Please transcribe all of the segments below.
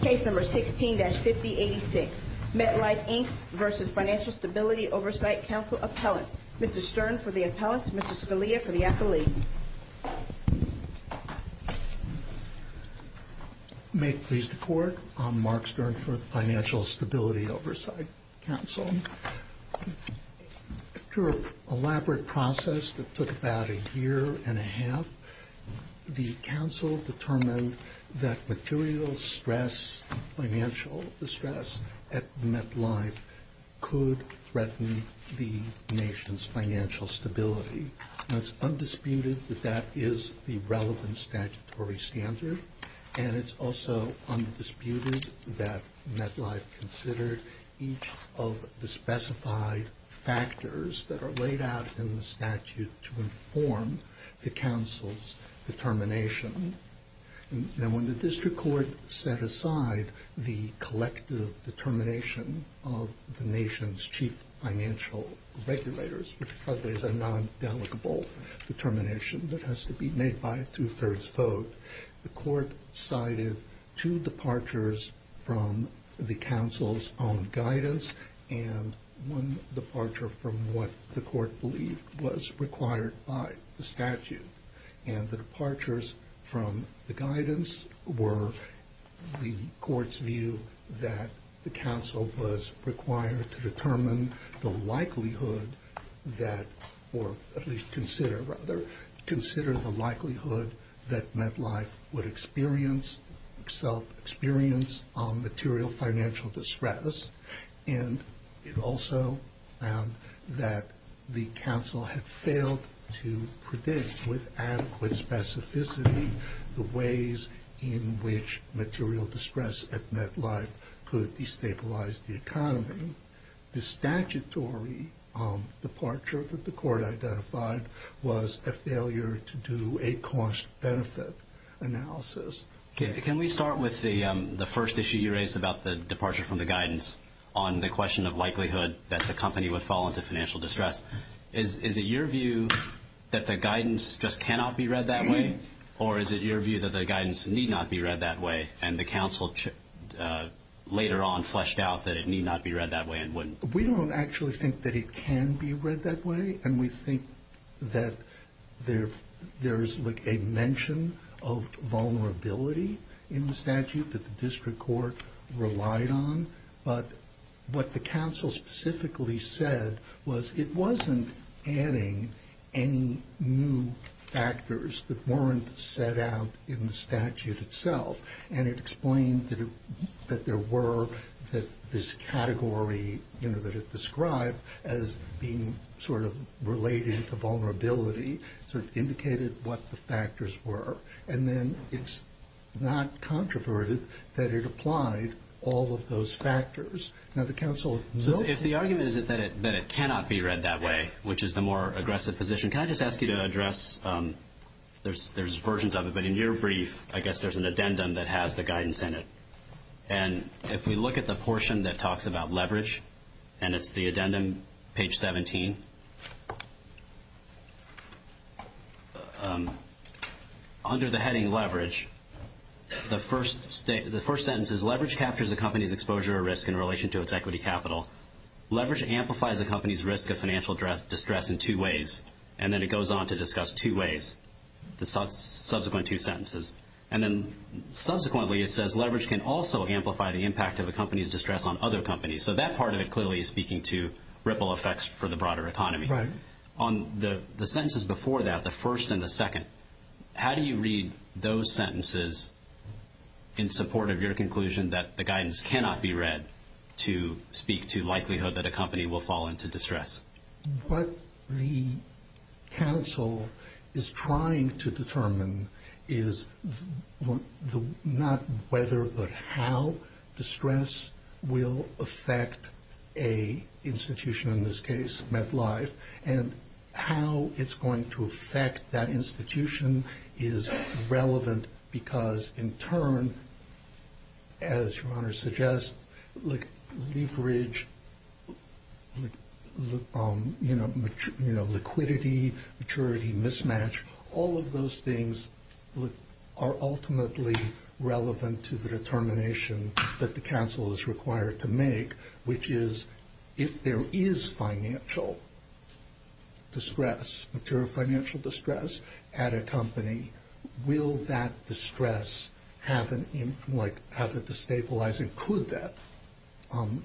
Case number 16-5086, MetLife, Inc. v. Financial Stability Oversight Council Appellant. Mr. Stern for the appellant, Mr. Scalia for the affiliate. May it please the Court, I'm Mark Stern for the Financial Stability Oversight Council. Through an elaborate process that took about a year and a half, the Council determined that material financial distress at MetLife could threaten the nation's financial stability. It's undisputed that that is the relevant statutory standard, and it's also undisputed that MetLife considered each of the specified factors that are laid out in the statute to inform the Council's determination. Now, when the District Court set aside the collective determination of the nation's chief financial regulators, which probably is a non-delegable determination that has to be made by a two-thirds vote, the Court cited two departures from the Council's own guidance and one departure from what the Court believed was required by the statute. And the departures from the guidance were the Court's view that the Council was required to determine the likelihood that, or at least consider, rather, consider the likelihood that MetLife would experience, self-experience, material financial distress, and it also found that the Council had failed to predict with adequate specificity the ways in which material distress at MetLife could destabilize the economy. The statutory departure that the Court identified was a failure to do a cost-benefit analysis. Can we start with the first issue you raised about the departure from the guidance on the question of likelihood that the company would fall into financial distress? Is it your view that the guidance just cannot be read that way, or is it your view that the guidance need not be read that way, and the Council later on fleshed out that it need not be read that way? We don't actually think that it can be read that way, and we think that there is a mention of vulnerability in the statute that the District Court relied on, but what the Council specifically said was it wasn't adding any new factors that weren't set out in the statute itself, and it explained that there were, that this category, you know, that it described as being sort of related to vulnerability sort of indicated what the factors were, and then it's not controverted that it applied all of those factors. If the argument is that it cannot be read that way, which is the more aggressive position, can I just ask you to address, there's versions of it, but in your brief, I guess there's an addendum that has the guidance in it, and if we look at the portion that talks about leverage, and it's the addendum, page 17, under the heading leverage, the first sentence is, in relation to its equity capital, leverage amplifies a company's risk of financial distress in two ways, and then it goes on to discuss two ways, the subsequent two sentences, and then subsequently, it says leverage can also amplify the impact of a company's distress on other companies, so that part of it clearly is speaking to ripple effects for the broader economy. On the sentences before that, the first and the second, how do you read those sentences in support of your conclusion that the guidance cannot be read to speak to likelihood that a company will fall into distress? What the counsel is trying to determine is not whether but how distress will affect an institution, in this case, MetLife, and how it's going to affect that institution is relevant, because in turn, as your Honor suggests, leverage, liquidity, maturity, mismatch, all of those things are ultimately relevant to the determination that the counsel is required to make, which is if there is financial distress, material financial distress at a company, will that distress have a destabilizing, could that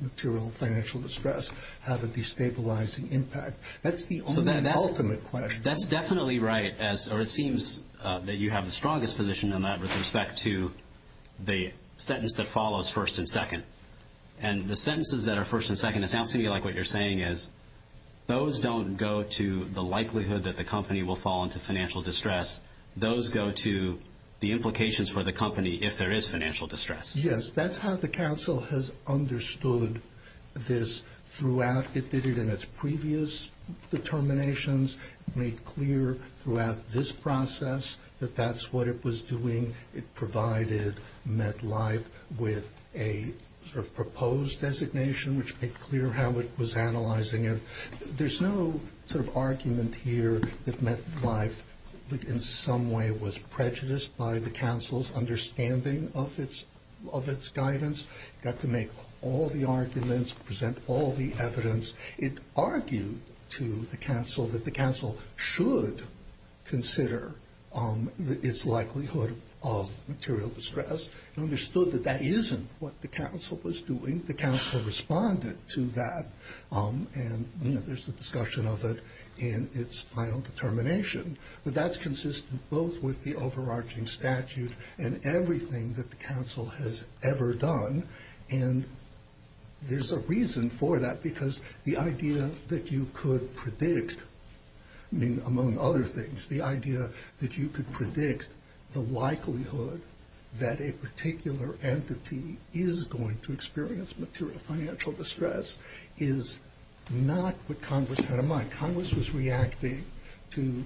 material financial distress have a destabilizing impact? That's the ultimate question. That's definitely right, or it seems that you have the strongest position on that with respect to the sentence that follows first and second, and the sentences that are first and second, it sounds to me like what you're saying is those don't go to the likelihood that the company will fall into financial distress. Those go to the implications for the company if there is financial distress. Yes, that's how the counsel has understood this throughout. It did it in its previous determinations, made clear throughout this process that that's what it was doing. It provided MetLife with a sort of proposed designation, which made clear how it was analyzing it. There's no sort of argument here that MetLife in some way was prejudiced by the counsel's understanding of its guidance. It got to make all the arguments, present all the evidence. It argued to the counsel that the counsel should consider its likelihood of material distress. It understood that that isn't what the counsel was doing. The counsel responded to that, and there's a discussion of it in its final determination. But that's consistent both with the overarching statute and everything that the counsel has ever done, and there's a reason for that because the idea that you could predict, among other things, the idea that you could predict the likelihood that a particular entity is going to experience financial distress is not what Congress had in mind. Congress was reacting to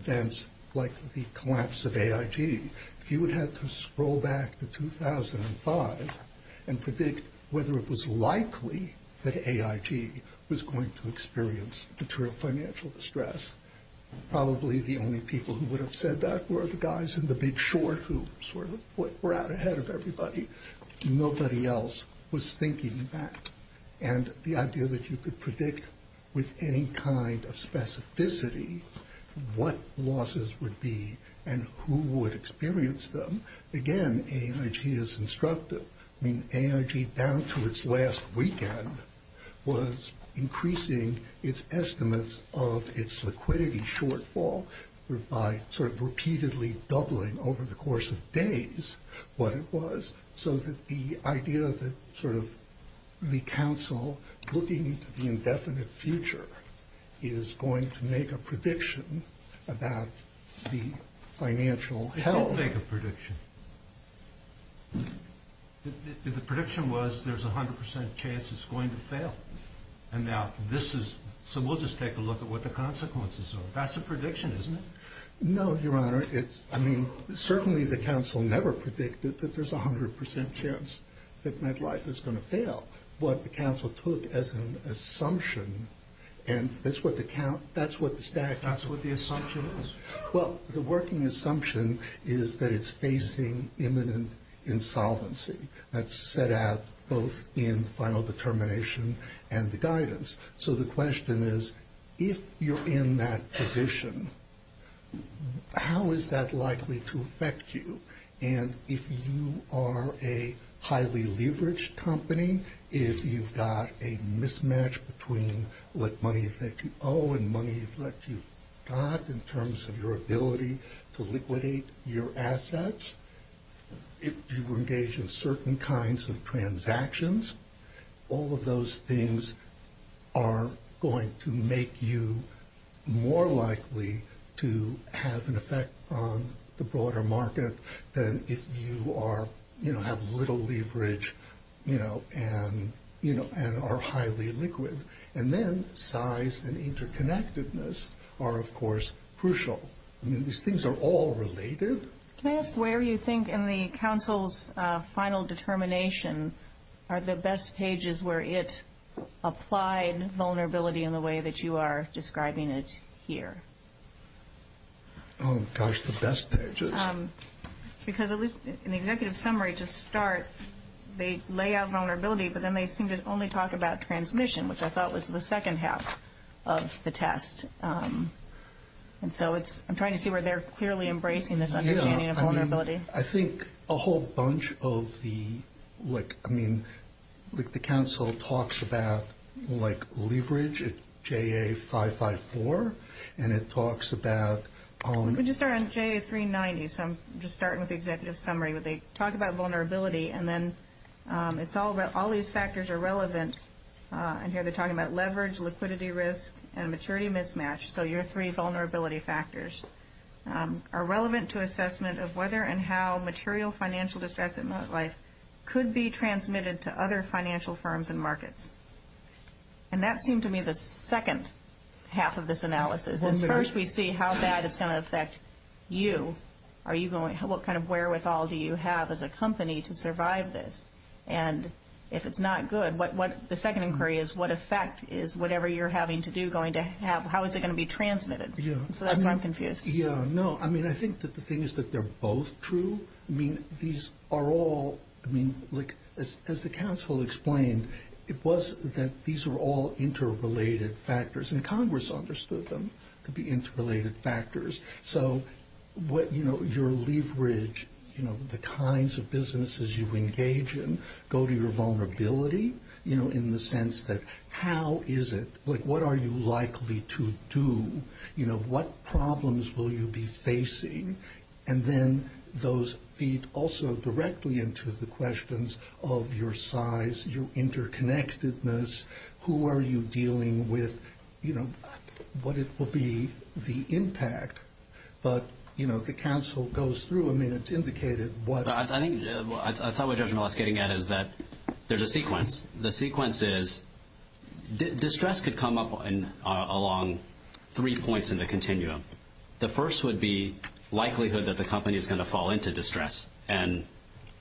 events like the collapse of AIG. If you had to scroll back to 2005 and predict whether it was likely that AIG was going to experience material financial distress, probably the only people who would have said that were the guys in the big short who sort of were out ahead of everybody. Nobody else was thinking that. And the idea that you could predict with any kind of specificity what losses would be and who would experience them, again, AIG is instructive. I mean, AIG down to its last weekend was increasing its estimates of its liquidity shortfall by sort of repeatedly doubling over the course of days what it was, so that the idea that sort of the counsel looking to the indefinite future is going to make a prediction about the financial health. It didn't make a prediction. The prediction was there's a hundred percent chance it's going to fail. And now this is – so we'll just take a look at what the consequences are. That's a prediction, isn't it? No, Your Honor. It's – I mean, certainly the counsel never predicted that there's a hundred percent chance that MetLife is going to fail. What the counsel took as an assumption, and that's what the stack is. That's what the assumption is. Well, the working assumption is that it's facing imminent insolvency. So the question is, if you're in that position, how is that likely to affect you? And if you are a highly leveraged company, if you've got a mismatch between what money you think you owe and money that you've got in terms of your ability to liquidate your assets, if you engage in certain kinds of transactions, all of those things are going to make you more likely to have an effect on the broader market than if you are – you know, have little leverage, you know, and are highly liquid. And then size and interconnectedness are, of course, crucial. I mean, these things are all related. Can I ask where you think in the counsel's final determination are the best pages where it applied vulnerability in the way that you are describing it here? Oh, gosh, the best pages. Because at least in the executive summary to start, they lay out vulnerability, but then they seem to only talk about transmission, which I thought was the second half of the test. And so it's – I'm trying to see where they're clearly embracing this understanding of vulnerability. Yeah, I mean, I think a whole bunch of the – like, I mean, like the counsel talks about, like, leverage at JA554, and it talks about – Let me just start on JA390. So I'm just starting with the executive summary, but they talk about vulnerability, and here they're talking about leverage, liquidity risk, and maturity mismatch. So your three vulnerability factors are relevant to assessment of whether and how material financial distress in real life could be transmitted to other financial firms and markets. And that seemed to me the second half of this analysis. First, we see how bad it's going to affect you. Are you going – what kind of wherewithal do you have as a company to survive this? And if it's not good, what – the second inquiry is what effect is whatever you're having to do going to have? How is it going to be transmitted? Yeah. So that's why I'm confused. Yeah, no, I mean, I think that the thing is that they're both true. I mean, these are all – I mean, like, as the counsel explained, it was that these were all interrelated factors, and Congress understood them to be interrelated factors. So what – you know, your leverage, you know, the kinds of businesses you engage in, go to your vulnerability, you know, in the sense that how is it – like, what are you likely to do? You know, what problems will you be facing? And then those feed also directly into the questions of your size, your interconnectedness, who are you dealing with, you know, what it will be, the impact. But, you know, the counsel goes through. I mean, it's indicated what – I think – I thought what Judge Melissa is getting at is that there's a sequence. The sequence is distress could come up along three points in the continuum. The first would be likelihood that the company is going to fall into distress, and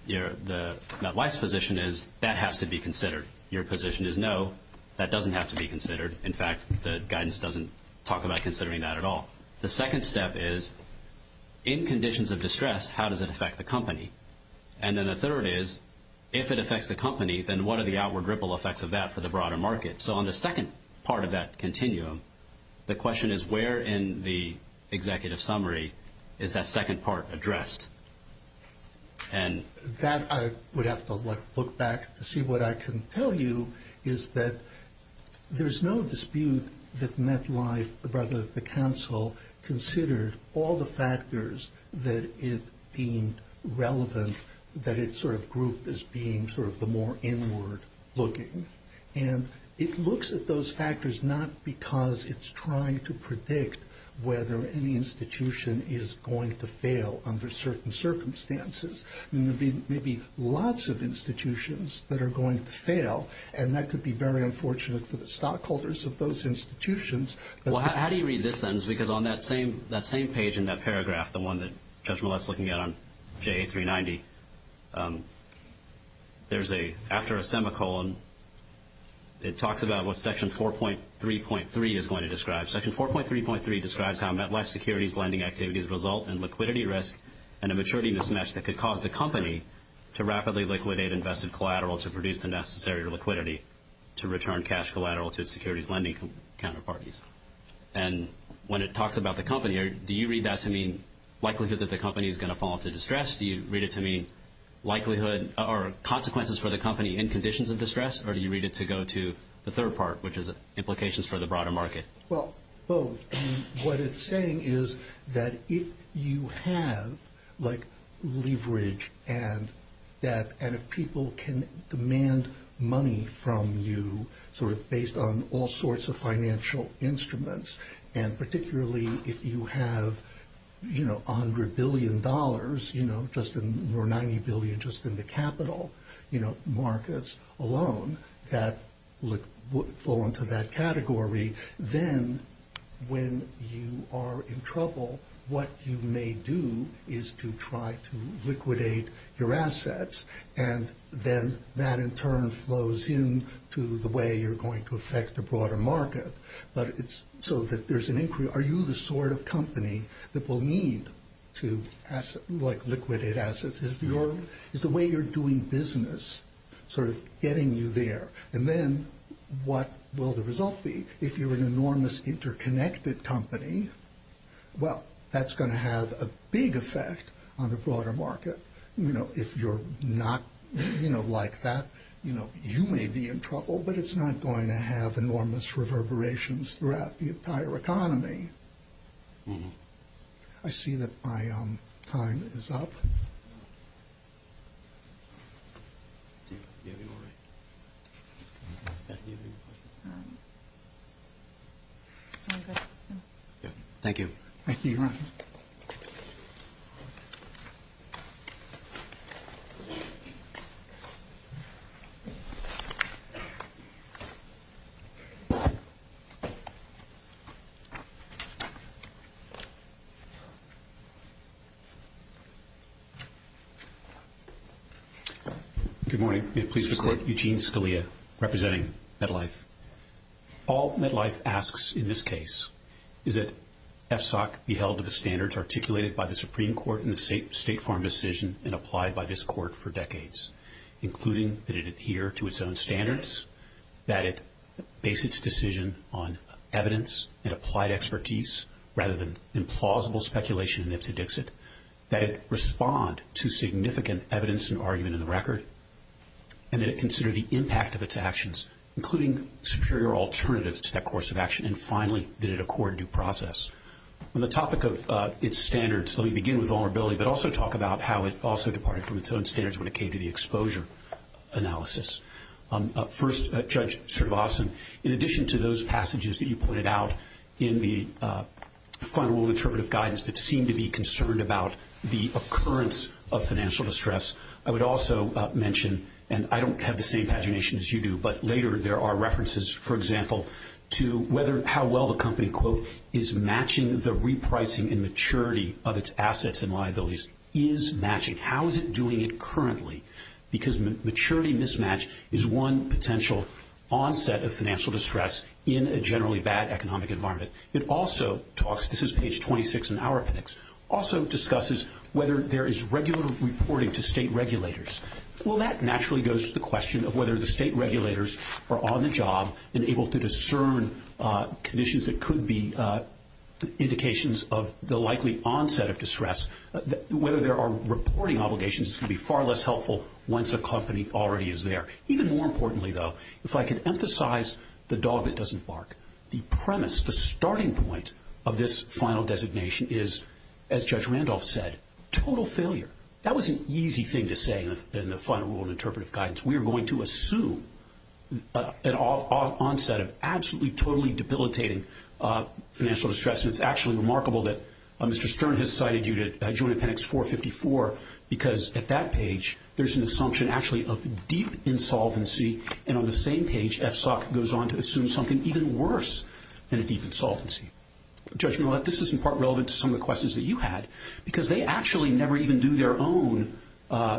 the vice position is that has to be considered. Your position is no, that doesn't have to be considered. In fact, the guidance doesn't talk about considering that at all. The second step is, in conditions of distress, how does it affect the company? And then the third is, if it affects the company, then what are the outward ripple effects of that for the broader market? So on the second part of that continuum, the question is, where in the executive summary is that second part addressed? And that I would have to look back to see what I can tell you is that there's no dispute that MetLife, the brother of the counsel, considered all the factors that it deemed relevant, that it sort of grouped as being sort of the more inward looking. And it looks at those factors not because it's trying to predict whether any institution is going to fail under certain circumstances. There may be lots of institutions that are going to fail, and that could be very unfortunate for the stockholders of those institutions. Well, how do you read this sentence? Because on that same page in that paragraph, the one that Judge Millett's looking at on JA 390, there's a, after a semicolon, it talks about what Section 4.3.3 is going to describe. Section 4.3.3 describes how MetLife's securities lending activities result in liquidity risk and a maturity mismatch that could cause the company to rapidly liquidate invested collateral to produce the necessary liquidity to return cash collateral to its securities lending counterparties. And when it talks about the company, do you read that to mean likelihood that the company is going to fall into distress? Do you read it to mean likelihood or consequences for the company in conditions of distress, or do you read it to go to the third part, which is implications for the broader market? Well, both. And what it's saying is that if you have, like, leverage and if people can demand money from you sort of based on all sorts of financial instruments, and particularly if you have, you know, $100 billion, you know, or $90 billion just in the capital markets alone that would fall into that category, then when you are in trouble, what you may do is to try to liquidate your assets, and then that in turn flows into the way you're going to affect the broader market. But it's so that there's an inquiry. Are you the sort of company that will need to liquidate assets? Is the way you're doing business sort of getting you there? And then what will the result be? If you're an enormous interconnected company, well, that's going to have a big effect on the broader market. You know, if you're not like that, you know, you may be in trouble, but it's not going to have enormous reverberations throughout the entire economy. I see that my time is up. All good. Thank you. Thank you, Your Honor. Good morning. May it please the Court. Eugene Scalia representing MetLife. All MetLife asks in this case is that FSOC be held to the standards articulated by the Supreme Court in the State Farm decision and applied by this Court for decades, including that it adhere to its own standards, that it base its decision on evidence and applied expertise rather than implausible speculation and ipsy-dixit, that it respond to significant evidence and argument in the record, and that it consider the impact of its actions, including superior alternatives to that course of action, and finally, that it accord due process. On the topic of its standards, let me begin with vulnerability, but also talk about how it also departed from its own standards when it came to the exposure analysis. First, Judge Sirvason, in addition to those passages that you pointed out in the final rule interpretive guidance that seemed to be concerned about the occurrence of financial distress, I would also mention, and I don't have the same pagination as you do, but later there are references, for example, to whether how well the company, quote, is matching the repricing and maturity of its assets and liabilities is matching. How is it doing it currently? Because maturity mismatch is one potential onset of financial distress in a generally bad economic environment. It also talks, this is page 26 in our appendix, also discusses whether there is regular reporting to state regulators. Well, that naturally goes to the question of whether the state regulators are on the job and able to discern conditions that could be indications of the likely onset of distress, whether there are reporting obligations can be far less helpful once a company already is there. Even more importantly, though, if I can emphasize the dog that doesn't bark, the premise, the starting point of this final designation is, as Judge Randolph said, total failure. That was an easy thing to say in the final rule of interpretive guidance. We are going to assume an onset of absolutely totally debilitating financial distress, and it's actually remarkable that Mr. Stern has cited you to join appendix 454 because at that page there's an assumption actually of deep insolvency, and on the same page FSOC goes on to assume something even worse than deep insolvency. Judge Millett, this is in part relevant to some of the questions that you had because they actually never even do their own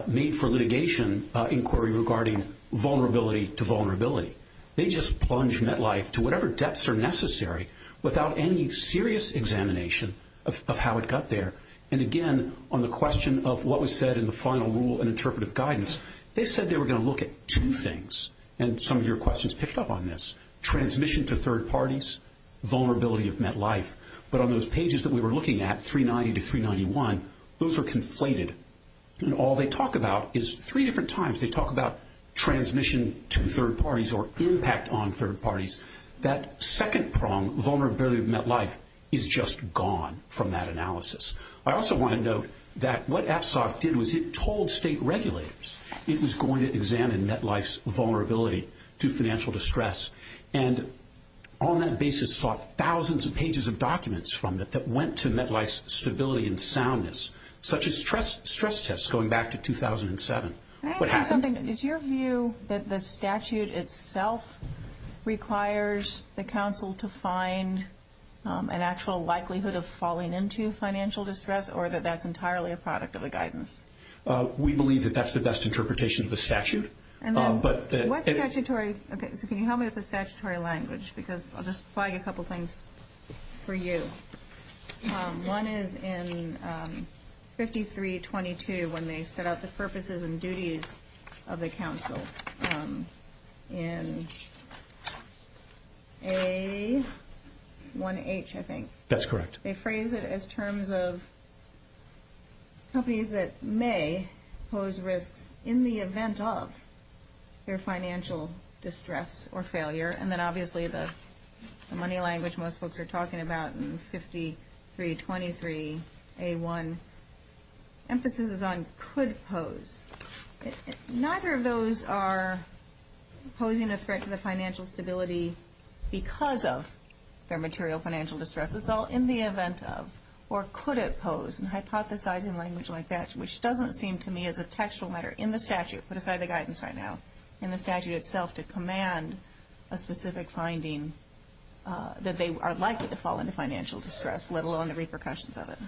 made-for-litigation inquiry regarding vulnerability to vulnerability. They just plunge MetLife to whatever depths are necessary without any serious examination of how it got there. Again, on the question of what was said in the final rule in interpretive guidance, they said they were going to look at two things, and some of your questions picked up on this. Transmission to third parties, vulnerability of MetLife. But on those pages that we were looking at, 390 to 391, those were conflated. All they talk about is three different times they talk about transmission to third parties or impact on third parties. That second prong, vulnerability of MetLife, is just gone from that analysis. I also want to note that what FSOC did was it told state regulators it was going to examine MetLife's vulnerability to financial distress and on that basis sought thousands of pages of documents from it that went to MetLife's stability and soundness, such as stress tests going back to 2007. Can I ask you something? Is your view that the statute itself requires the council to find an actual likelihood of falling into financial distress or that that's entirely a product of the guidance? We believe that that's the best interpretation of the statute. What's statutory? Can you help me with the statutory language? I'll just flag a couple things for you. One is in 5322 when they set out the purposes and duties of the council in A1H, I think. That's correct. They phrase it as terms of companies that may pose risks in the event of their financial distress or failure and then obviously the money language most folks are talking about in 5323A1 emphases on could pose. Neither of those are posing a threat to the financial stability because of their material financial distress. It's all in the event of or could it pose, and hypothesizing language like that, which doesn't seem to me as a textual matter in the statute, put aside the guidance right now, in the statute itself, to command a specific finding that they are likely to fall into financial distress, let alone the repercussions of it.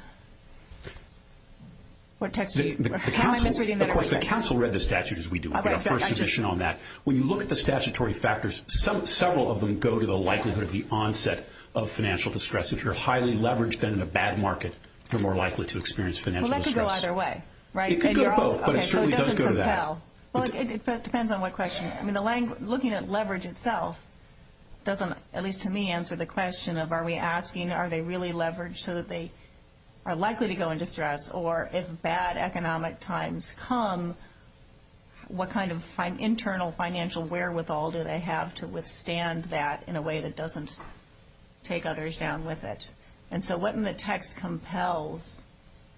Of course, the council read the statute as we do. We have a first edition on that. When you look at the statutory factors, several of them go to the likelihood or the onset of financial distress. If you're highly leveraged and in a bad market, you're more likely to experience financial distress. Well, that could go either way, right? It could go both, but it certainly does go to that. Well, it depends on what question. I mean, looking at leverage itself doesn't, at least to me, answer the question of are we asking are they really leveraged so that they are likely to go in distress, or if bad economic times come, what kind of internal financial wherewithal do they have to withstand that in a way that doesn't take others down with it? And so what in the text compels?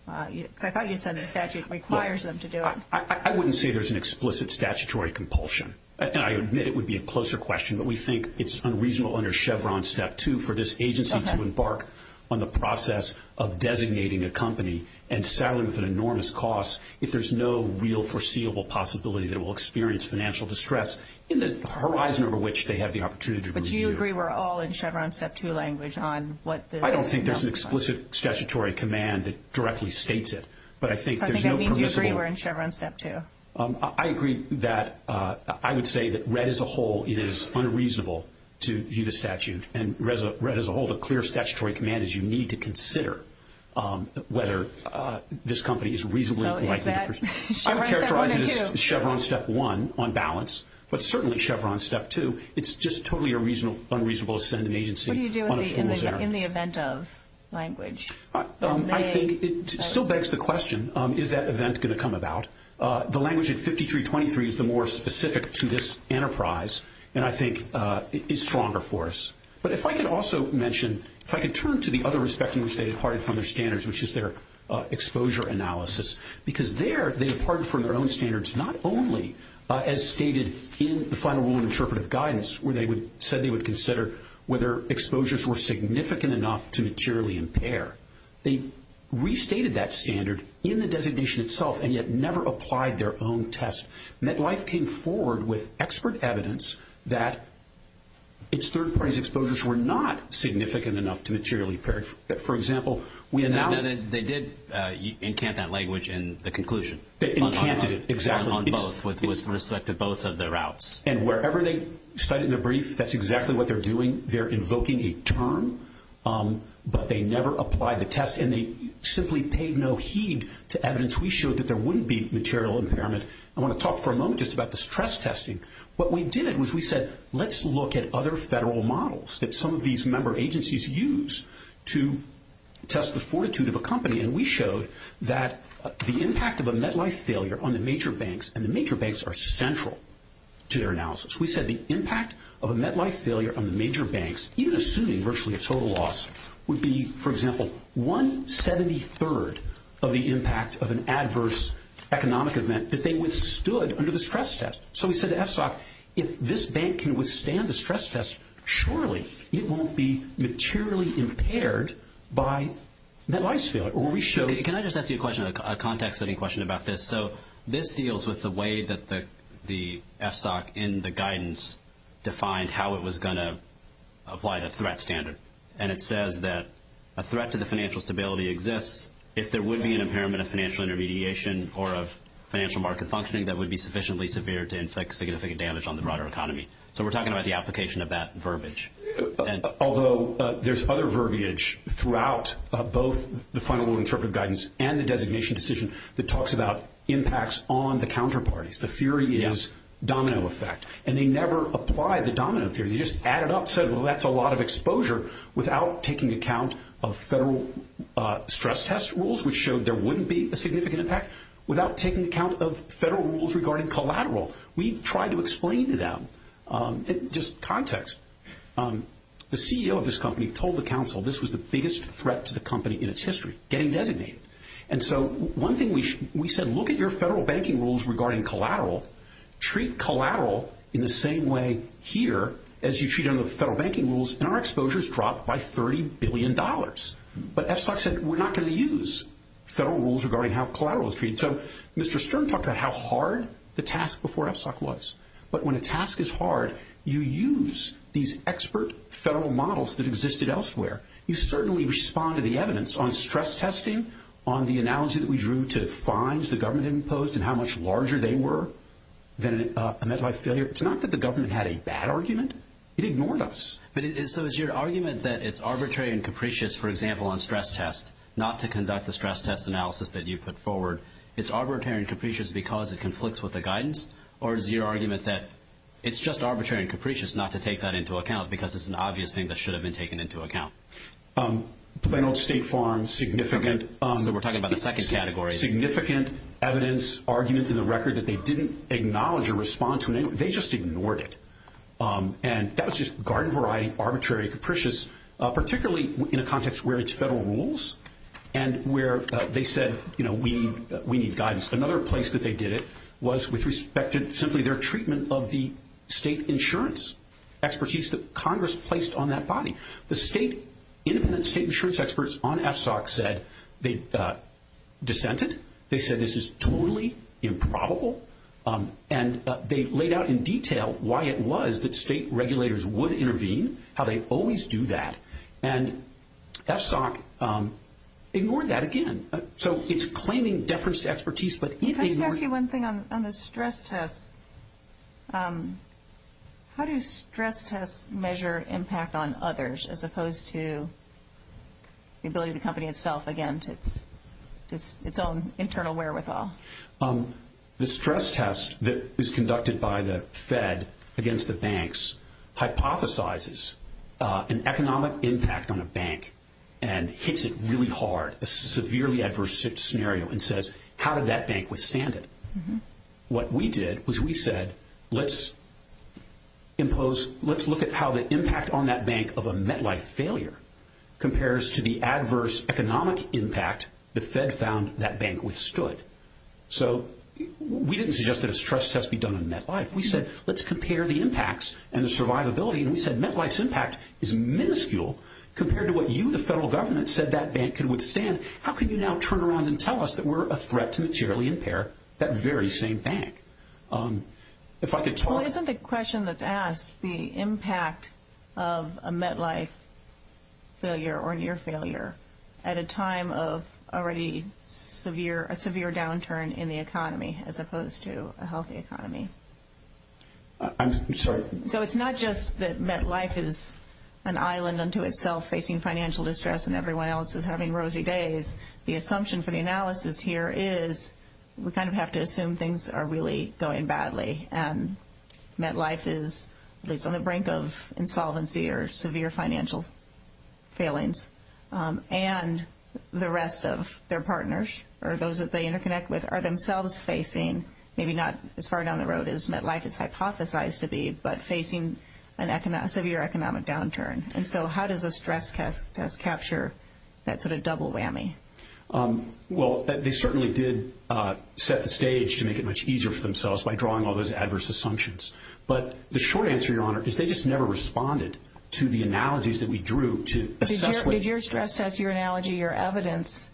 Because I thought you said the statute requires them to do it. I wouldn't say there's an explicit statutory compulsion, and I admit it would be a closer question, but we think it's unreasonable under Chevron Step 2 for this agency to embark on the process of designating a company and selling with an enormous cost if there's no real foreseeable possibility that it will experience financial distress in the horizon over which they have the opportunity to move forward. But do you agree we're all in Chevron Step 2 language on what this? I don't think there's an explicit statutory command that directly states it, but I think there's no permissible. So I think that means you agree we're in Chevron Step 2. I agree that I would say that read as a whole it is unreasonable to view the statute, and read as a whole the clear statutory command is you need to consider whether this company is reasonably likely. So is that Chevron Step 1 or 2? I would characterize it as Chevron Step 1 on balance, but certainly Chevron Step 2. It's just totally unreasonable to send an agency on a fool's errand. What do you do in the event of language? I think it still begs the question, is that event going to come about? The language at 5323 is the more specific to this enterprise, and I think is stronger for us. But if I could also mention, if I could turn to the other respect in which they departed from their standards, which is their exposure analysis, because there they departed from their own standards not only as stated in the final rule of interpretive guidance where they said they would consider whether exposures were significant enough to materially impair. They restated that standard in the designation itself, and yet never applied their own test. MetLife came forward with expert evidence that its third party's exposures were not significant enough to materially impair. For example, we have now- They did encant that language in the conclusion. They encanted it, exactly. On both, with respect to both of the routes. And wherever they cite it in the brief, that's exactly what they're doing. They're invoking a term, but they never applied the test, and they simply paid no heed to evidence. We showed that there wouldn't be material impairment. I want to talk for a moment just about the stress testing. What we did was we said, let's look at other federal models that some of these member agencies use to test the fortitude of a company, and we showed that the impact of a MetLife failure on the major banks, and the major banks are central to their analysis. We said the impact of a MetLife failure on the major banks, even assuming virtually a total loss, would be, for example, one-seventy-third of the impact of an adverse economic event that they withstood under the stress test. So we said to FSOC, if this bank can withstand the stress test, surely it won't be materially impaired by MetLife's failure. Can I just ask you a question, a context-setting question about this? So this deals with the way that the FSOC in the guidance defined how it was going to apply the threat standard, and it says that a threat to the financial stability exists if there would be an impairment of financial intermediation or of financial market functioning that would be sufficiently severe to inflict significant damage on the broader economy. So we're talking about the application of that verbiage. Although there's other verbiage throughout both the final rule interpretive guidance and the designation decision that talks about impacts on the counterparties. The theory is domino effect, and they never apply the domino theory. They just add it up, said, well, that's a lot of exposure, without taking account of federal stress test rules, which showed there wouldn't be a significant impact, without taking account of federal rules regarding collateral. We tried to explain to them just context. The CEO of this company told the council this was the biggest threat to the company in its history, getting designated. And so one thing we said, look at your federal banking rules regarding collateral. Treat collateral in the same way here as you treat it in the federal banking rules, and our exposure has dropped by $30 billion. But FSOC said we're not going to use federal rules regarding how collateral is treated. So Mr. Stern talked about how hard the task before FSOC was. But when a task is hard, you use these expert federal models that existed elsewhere. You certainly respond to the evidence on stress testing, on the analogy that we drew to fines the government imposed and how much larger they were than a mental health failure. It's not that the government had a bad argument. It ignored us. So is your argument that it's arbitrary and capricious, for example, on stress tests, not to conduct the stress test analysis that you put forward, it's arbitrary and capricious because it conflicts with the guidance? Or is your argument that it's just arbitrary and capricious not to take that into account because it's an obvious thing that should have been taken into account? Plano State Farm's significant evidence argument in the record that they didn't acknowledge or respond to, they just ignored it. And that was just garden variety, arbitrary, capricious, particularly in a context where it's federal rules and where they said we need guidance. Another place that they did it was with respect to simply their treatment of the state insurance expertise that Congress placed on that body. The independent state insurance experts on FSOC dissented. They said this is totally improbable. And they laid out in detail why it was that state regulators would intervene, how they always do that. And FSOC ignored that again. So it's claiming deference to expertise, but it ignored it. Let me just ask you one thing on the stress tests. How do stress tests measure impact on others as opposed to the ability of the company itself, again, to its own internal wherewithal? The stress test that was conducted by the Fed against the banks hypothesizes an economic impact on a bank and hits it really hard, a severely adverse scenario, and says how did that bank withstand it? What we did was we said let's look at how the impact on that bank of a MetLife failure compares to the adverse economic impact the Fed found that bank withstood. So we didn't suggest that a stress test be done on MetLife. We said let's compare the impacts and the survivability. And we said MetLife's impact is minuscule compared to what you, the federal government, said that bank can withstand. How can you now turn around and tell us that we're a threat to materially impair that very same bank? If I could talk to you. Well, isn't the question that's asked the impact of a MetLife failure or near failure at a time of already a severe downturn in the economy as opposed to a healthy economy? I'm sorry. So it's not just that MetLife is an island unto itself facing financial distress and everyone else is having rosy days. The assumption for the analysis here is we kind of have to assume things are really going badly and MetLife is at least on the brink of insolvency or severe financial failings and the rest of their partners or those that they interconnect with are themselves facing maybe not as far down the road as MetLife is hypothesized to be, but facing a severe economic downturn. And so how does a stress test capture that sort of double whammy? Well, they certainly did set the stage to make it much easier for themselves by drawing all those adverse assumptions. But the short answer, Your Honor, is they just never responded to the analogies that we drew to assess what Did your stress test, your analogy, your evidence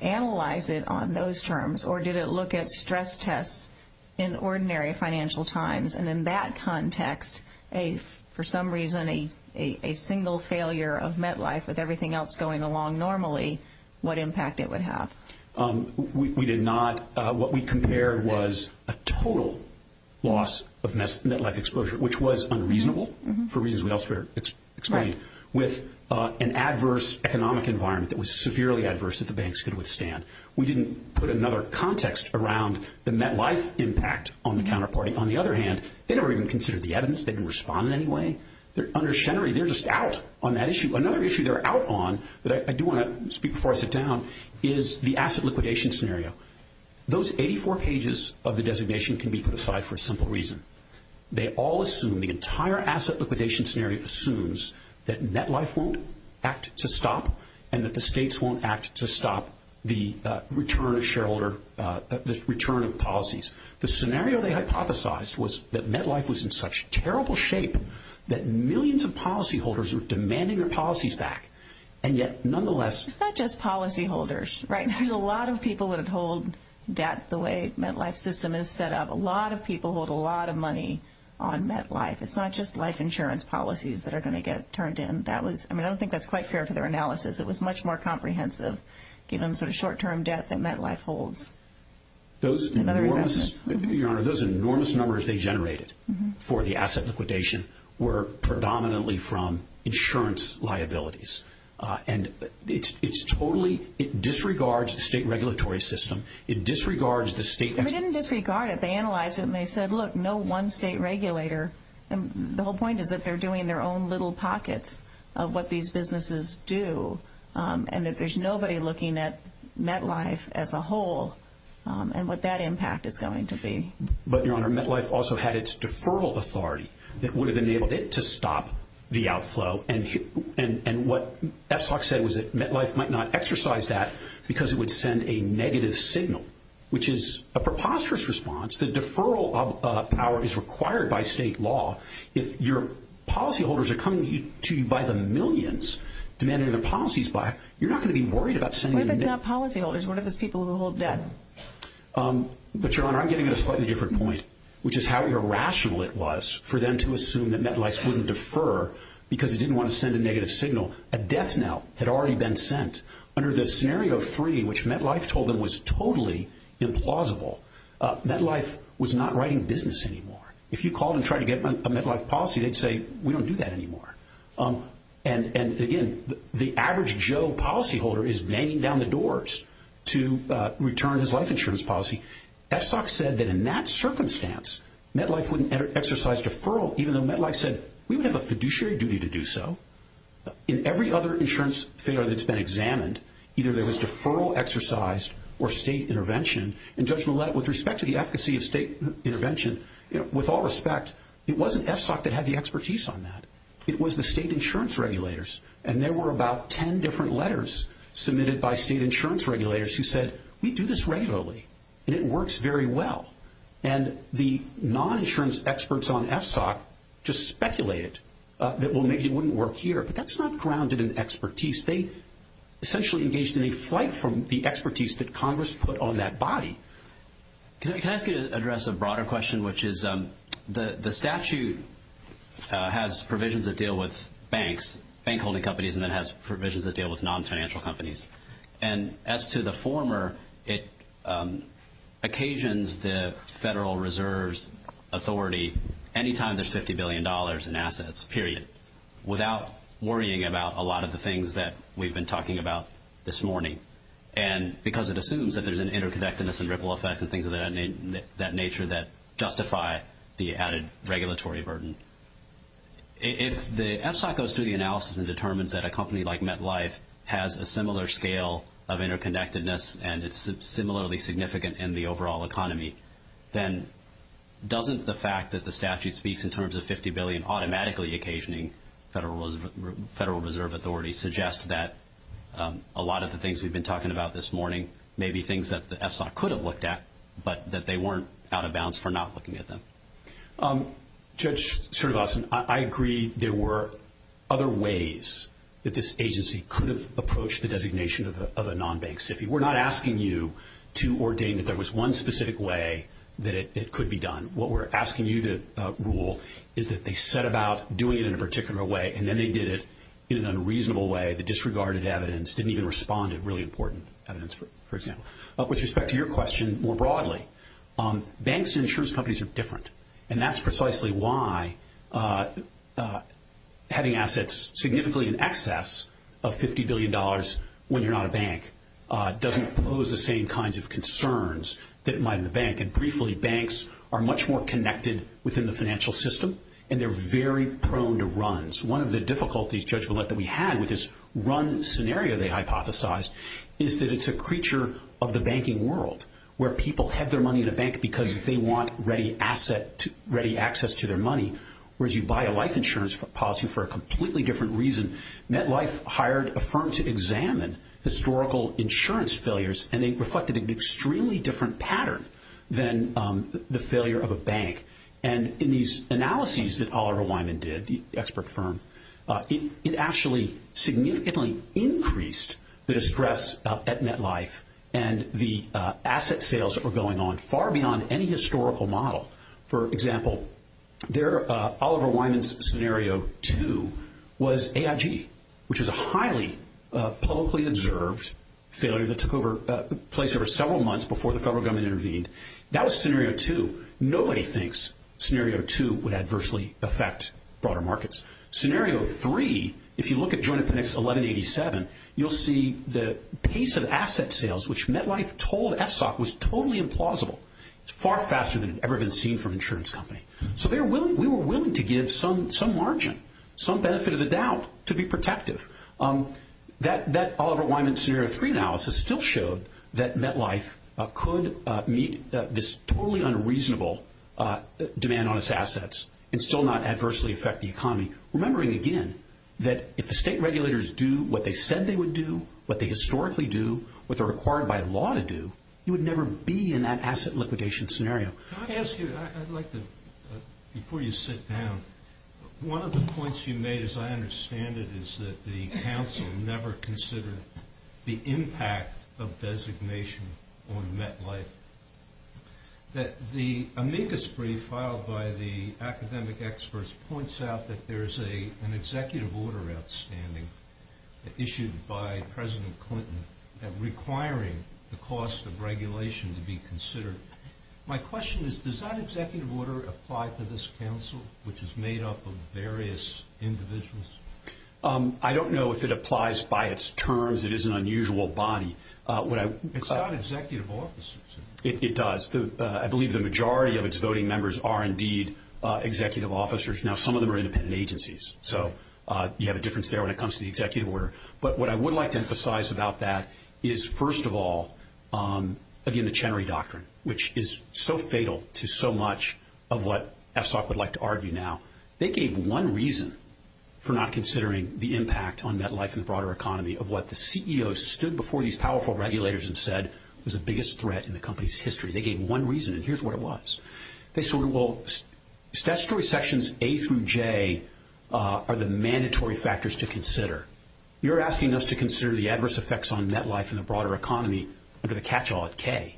analyze it on those terms or did it look at stress tests in ordinary financial times? And in that context, if for some reason a single failure of MetLife with everything else going along normally, what impact it would have? We did not. What we compared was a total loss of MetLife exposure, which was unreasonable for reasons we also explained, with an adverse economic environment that was severely adverse that the banks could withstand. We didn't put another context around the MetLife impact on the counterparty. On the other hand, they never even considered the evidence. They didn't respond in any way. Under Schenery, they're just out on that issue. Another issue they're out on that I do want to speak before I sit down is the asset liquidation scenario. Those 84 pages of the designation can be put aside for a simple reason. They all assume, the entire asset liquidation scenario assumes that MetLife won't act to stop and that the states won't act to stop the return of shareholder, the return of policies. The scenario they hypothesized was that MetLife was in such terrible shape that millions of policyholders were demanding their policies back. And yet, nonetheless, It's not just policyholders, right? There's a lot of people that hold debt the way MetLife system is set up. A lot of people hold a lot of money on MetLife. It's not just life insurance policies that are going to get turned in. I mean, I don't think that's quite fair for their analysis. It was much more comprehensive given the sort of short-term debt that MetLife holds. Those enormous numbers they generated for the asset liquidation were predominantly from insurance liabilities. And it disregards the state regulatory system. It disregards the state. They didn't disregard it. They analyzed it and they said, look, no one state regulator. And the whole point is that they're doing their own little pockets of what these businesses do and that there's nobody looking at MetLife as a whole and what that impact is going to be. But, Your Honor, MetLife also had its deferral authority that would have enabled it to stop the outflow. And what FSOC said was that MetLife might not exercise that because it would send a negative signal, which is a preposterous response. The deferral of power is required by state law. If your policyholders are coming to you by the millions, demanding their policies back, you're not going to be worried about sending a negative signal. What if it's not policyholders? What if it's people who hold debt? But, Your Honor, I'm getting at a slightly different point, which is how irrational it was for them to assume that MetLife wouldn't defer because it didn't want to send a negative signal. A death knell had already been sent. Under the scenario three, which MetLife told them was totally implausible, MetLife was not writing business anymore. If you called and tried to get a MetLife policy, they'd say, we don't do that anymore. And, again, the average Joe policyholder is banging down the doors to return his life insurance policy. FSOC said that in that circumstance, MetLife wouldn't exercise deferral, even though MetLife said we would have a fiduciary duty to do so. In every other insurance failure that's been examined, either there was deferral exercised or state intervention, and Judge Millett, with respect to the efficacy of state intervention, with all respect, it wasn't FSOC that had the expertise on that. It was the state insurance regulators, and there were about ten different letters submitted by state insurance regulators who said, we do this regularly, and it works very well. And the non-insurance experts on FSOC just speculated that, well, maybe it wouldn't work here. But that's not grounded in expertise. They essentially engaged in a flight from the expertise that Congress put on that body. Can I ask you to address a broader question, which is the statute has provisions that deal with banks, bank holding companies, and then has provisions that deal with non-financial companies. And as to the former, it occasions the Federal Reserve's authority any time there's $50 billion in assets, period, without worrying about a lot of the things that we've been talking about this morning, because it assumes that there's an interconnectedness and ripple effect and things of that nature that justify the added regulatory burden. If the FSOC goes through the analysis and determines that a company like MetLife has a similar scale of interconnectedness and it's similarly significant in the overall economy, then doesn't the fact that the statute speaks in terms of $50 billion automatically occasioning Federal Reserve authority suggest that a lot of the things we've been talking about this morning may be things that the FSOC could have looked at, but that they weren't out of bounds for not looking at them? Judge Sertoglossan, I agree there were other ways that this agency could have approached the designation of a non-bank SIFI. We're not asking you to ordain that there was one specific way that it could be done. What we're asking you to rule is that they set about doing it in a particular way and then they did it in an unreasonable way that disregarded evidence, didn't even respond to really important evidence, for example. With respect to your question more broadly, banks and insurance companies are different. And that's precisely why having assets significantly in excess of $50 billion when you're not a bank doesn't pose the same kinds of concerns that might in a bank. And briefly, banks are much more connected within the financial system and they're very prone to runs. One of the difficulties, Judge Millett, that we had with this run scenario they hypothesized is that it's a creature of the banking world where people have their money in a bank because they want ready access to their money, whereas you buy a life insurance policy for a completely different reason. MetLife hired a firm to examine historical insurance failures and they reflected an extremely different pattern than the failure of a bank. And in these analyses that Oliver Wyman did, the expert firm, it actually significantly increased the distress at MetLife and the asset sales that were going on far beyond any historical model. For example, Oliver Wyman's Scenario 2 was AIG, which was a highly publicly observed failure that took place over several months before the federal government intervened. That was Scenario 2. Nobody thinks Scenario 2 would adversely affect broader markets. Scenario 3, if you look at Joint Appendix 1187, you'll see the pace of asset sales, which MetLife told FSOC was totally implausible. It's far faster than had ever been seen from an insurance company. So we were willing to give some margin, some benefit of the doubt, to be protective. That Oliver Wyman Scenario 3 analysis still showed that MetLife could meet this totally unreasonable demand on its assets and still not adversely affect the economy, remembering again that if the state regulators do what they said they would do, what they historically do, what they're required by law to do, you would never be in that asset liquidation scenario. Can I ask you, I'd like to, before you sit down, one of the points you made, as I understand it, is that the council never considered the impact of designation on MetLife. The amicus brief filed by the academic experts points out that there's an executive order outstanding issued by President Clinton requiring the cost of regulation to be considered. My question is, does that executive order apply to this council, which is made up of various individuals? I don't know if it applies by its terms. It is an unusual body. It's not executive officers. It does. I believe the majority of its voting members are indeed executive officers. Now, some of them are independent agencies, so you have a difference there when it comes to the executive order. But what I would like to emphasize about that is, first of all, again, the Chenery Doctrine, which is so fatal to so much of what FSOC would like to argue now. They gave one reason for not considering the impact on MetLife and the broader economy of what the CEOs stood before these powerful regulators and said was the biggest threat in the company's history. They gave one reason, and here's what it was. They said, well, statutory sections A through J are the mandatory factors to consider. You're asking us to consider the adverse effects on MetLife and the broader economy under the catch-all at K.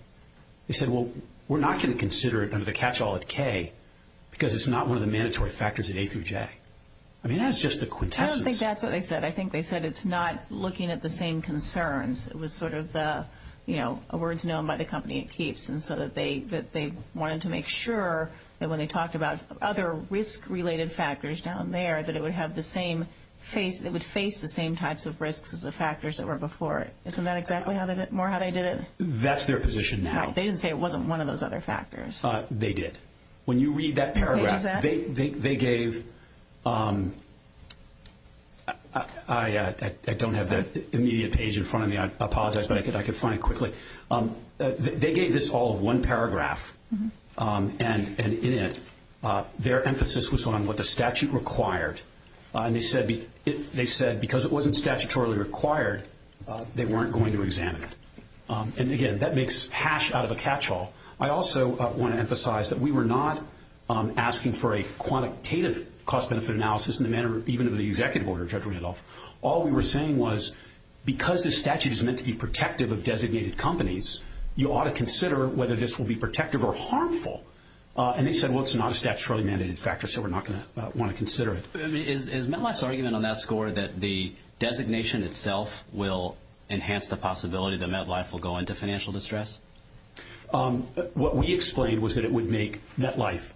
They said, well, we're not going to consider it under the catch-all at K because it's not one of the mandatory factors at A through J. I mean, that's just the quintessence. I think that's what they said. I think they said it's not looking at the same concerns. It was sort of the words known by the company it keeps, and so they wanted to make sure that when they talked about other risk-related factors down there that it would face the same types of risks as the factors that were before it. Isn't that exactly more how they did it? That's their position now. They didn't say it wasn't one of those other factors. They did. When you read that paragraph, they gave – I don't have the immediate page in front of me. I apologize, but I can find it quickly. They gave this all of one paragraph, and in it their emphasis was on what the statute required. They said because it wasn't statutorily required, they weren't going to examine it. Again, that makes hash out of a catch-all. I also want to emphasize that we were not asking for a quantitative cost-benefit analysis in the manner even of the executive order, Judge Randolph. All we were saying was because the statute is meant to be protective of designated companies, you ought to consider whether this will be protective or harmful. They said, well, it's not a statutorily mandated factor, so we're not going to want to consider it. Is MetLife's argument on that score that the designation itself will enhance the possibility that MetLife will go into financial distress? What we explained was that it would make MetLife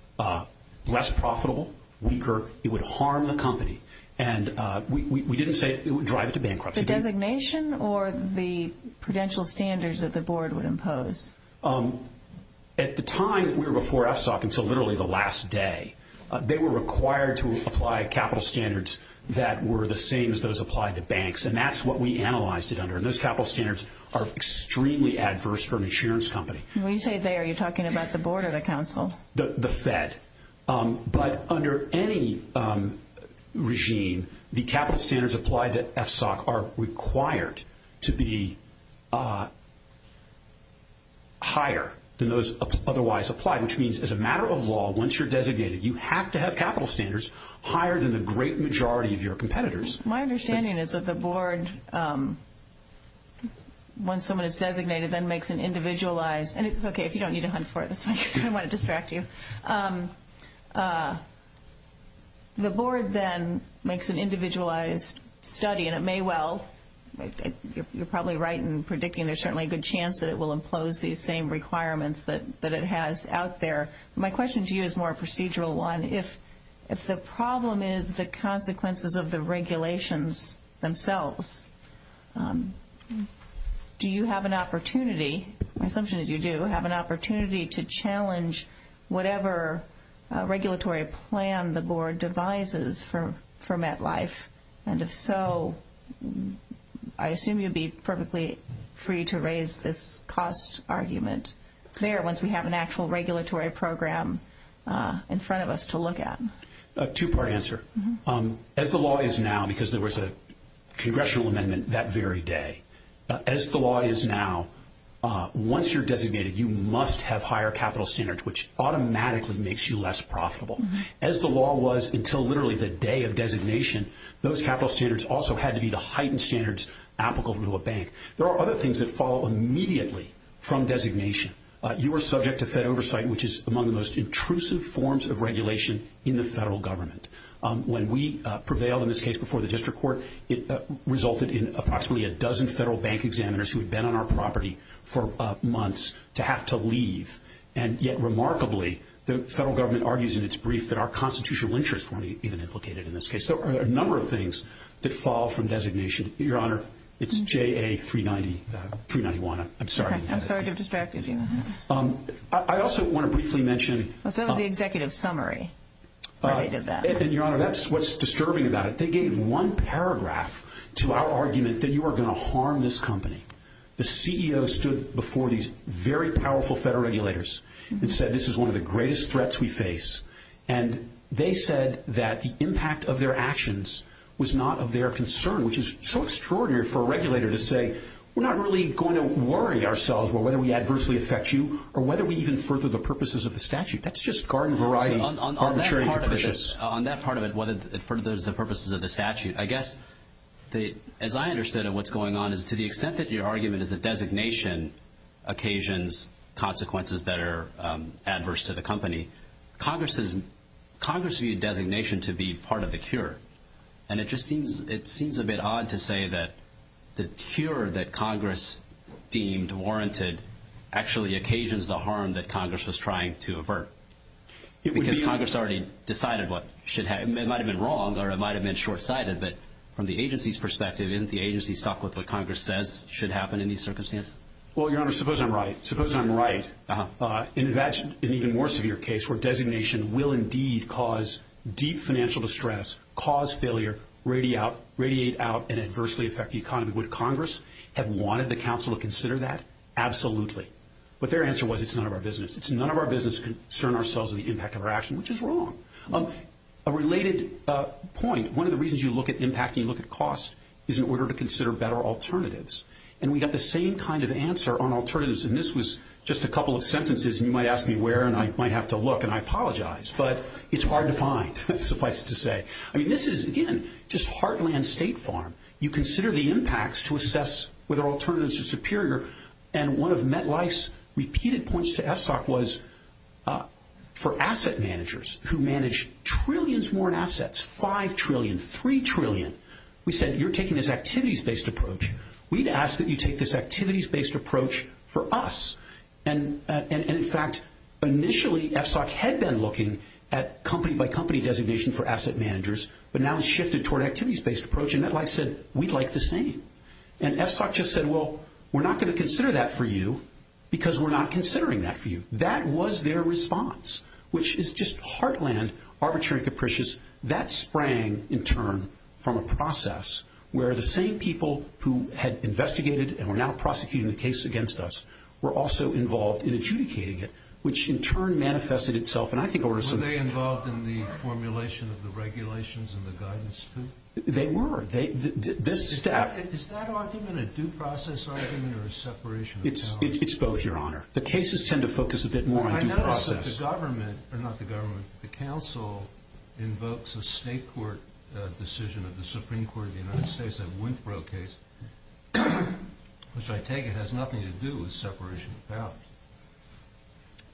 less profitable, weaker. It would harm the company. And we didn't say it would drive it to bankruptcy. The designation or the prudential standards that the board would impose? At the time that we were before FSOC, until literally the last day, they were required to apply capital standards that were the same as those applied to banks, and that's what we analyzed it under. Those capital standards are extremely adverse for an insurance company. When you say they, are you talking about the board or the council? The Fed. But under any regime, the capital standards applied to FSOC are required to be higher than those otherwise applied, which means as a matter of law, once you're designated, you have to have capital standards higher than the great majority of your competitors. My understanding is that the board, once someone is designated, then makes an individualized, and it's okay if you don't need to hunt for it. I don't want to distract you. The board then makes an individualized study, and it may well, you're probably right in predicting there's certainly a good chance that it will impose these same requirements that it has out there. My question to you is more a procedural one. If the problem is the consequences of the regulations themselves, do you have an opportunity, my assumption is you do, have an opportunity to challenge whatever regulatory plan the board devises for MetLife? And if so, I assume you'd be perfectly free to raise this cost argument there once we have an actual regulatory program in front of us to look at. A two-part answer. As the law is now, because there was a congressional amendment that very day, as the law is now, once you're designated, you must have higher capital standards, which automatically makes you less profitable. As the law was until literally the day of designation, those capital standards also had to be the heightened standards applicable to a bank. There are other things that follow immediately from designation. You are subject to Fed oversight, which is among the most intrusive forms of regulation in the federal government. When we prevailed in this case before the district court, it resulted in approximately a dozen federal bank examiners who had been on our property for months to have to leave. And yet remarkably, the federal government argues in its brief that our constitutional interests weren't even implicated in this case. So there are a number of things that fall from designation. Your Honor, it's JA 391. I'm sorry. I'm sorry to have distracted you. I also want to briefly mention— That was the executive summary where they did that. Your Honor, that's what's disturbing about it. They gave one paragraph to our argument that you are going to harm this company. The CEO stood before these very powerful federal regulators and said this is one of the greatest threats we face, and they said that the impact of their actions was not of their concern, which is so extraordinary for a regulator to say, we're not really going to worry ourselves whether we adversely affect you or whether we even further the purposes of the statute. That's just garden-variety, arbitrary and capricious. On that part of it, whether it furthers the purposes of the statute, I guess, as I understood it, what's going on is to the extent that your argument is that designation occasions consequences that are adverse to the company, Congress viewed designation to be part of the cure. And it just seems a bit odd to say that the cure that Congress deemed warranted actually occasions the harm that Congress was trying to avert. Because Congress already decided what should happen. It might have been wrong or it might have been short-sighted, but from the agency's perspective, isn't the agency stuck with what Congress says should happen in these circumstances? Well, Your Honor, suppose I'm right. Suppose I'm right. Imagine an even more severe case where designation will indeed cause deep financial distress, cause failure, radiate out, and adversely affect the economy. Would Congress have wanted the counsel to consider that? Absolutely. But their answer was it's none of our business. It's none of our business to concern ourselves with the impact of our action, which is wrong. A related point, one of the reasons you look at impact and you look at cost is in order to consider better alternatives. And we got the same kind of answer on alternatives. And this was just a couple of sentences, and you might ask me where, and I might have to look, and I apologize. But it's hard to find, suffice it to say. I mean, this is, again, just Heartland State Farm. You consider the impacts to assess whether alternatives are superior. And one of MetLife's repeated points to FSOC was for asset managers who manage trillions more in assets, $5 trillion, $3 trillion, we said you're taking this activities-based approach. We'd ask that you take this activities-based approach for us. And, in fact, initially FSOC had been looking at company-by-company designation for asset managers, but now it's shifted toward activities-based approach, and MetLife said we'd like the same. And FSOC just said, well, we're not going to consider that for you because we're not considering that for you. That was their response, which is just Heartland, arbitrary and capricious. That sprang, in turn, from a process where the same people who had investigated and were now prosecuting the case against us were also involved in adjudicating it, which, in turn, manifested itself. And I think over some— Were they involved in the formulation of the regulations and the guidance, too? They were. Is that argument a due process argument or a separation of powers? It's both, Your Honor. The cases tend to focus a bit more on due process. I noticed that the government, or not the government, the council invokes a state court decision of the Supreme Court of the United States, which I take it has nothing to do with separation of powers.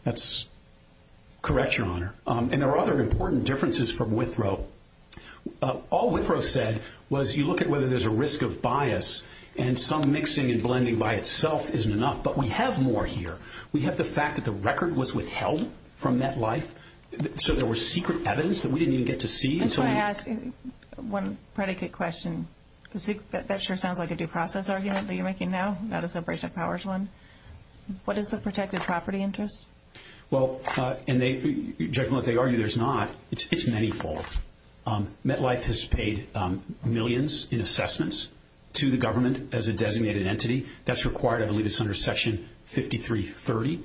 That's correct, Your Honor. And there are other important differences from Withrow. All Withrow said was you look at whether there's a risk of bias, and some mixing and blending by itself isn't enough, but we have more here. We have the fact that the record was withheld from MetLife, so there was secret evidence that we didn't even get to see. I just want to ask one predicate question. That sure sounds like a due process argument that you're making now, not a separation of powers one. What is the protected property interest? Judging by what they argue, there's not. It's manyfold. MetLife has paid millions in assessments to the government as a designated entity. That's required, I believe, is under Section 5330.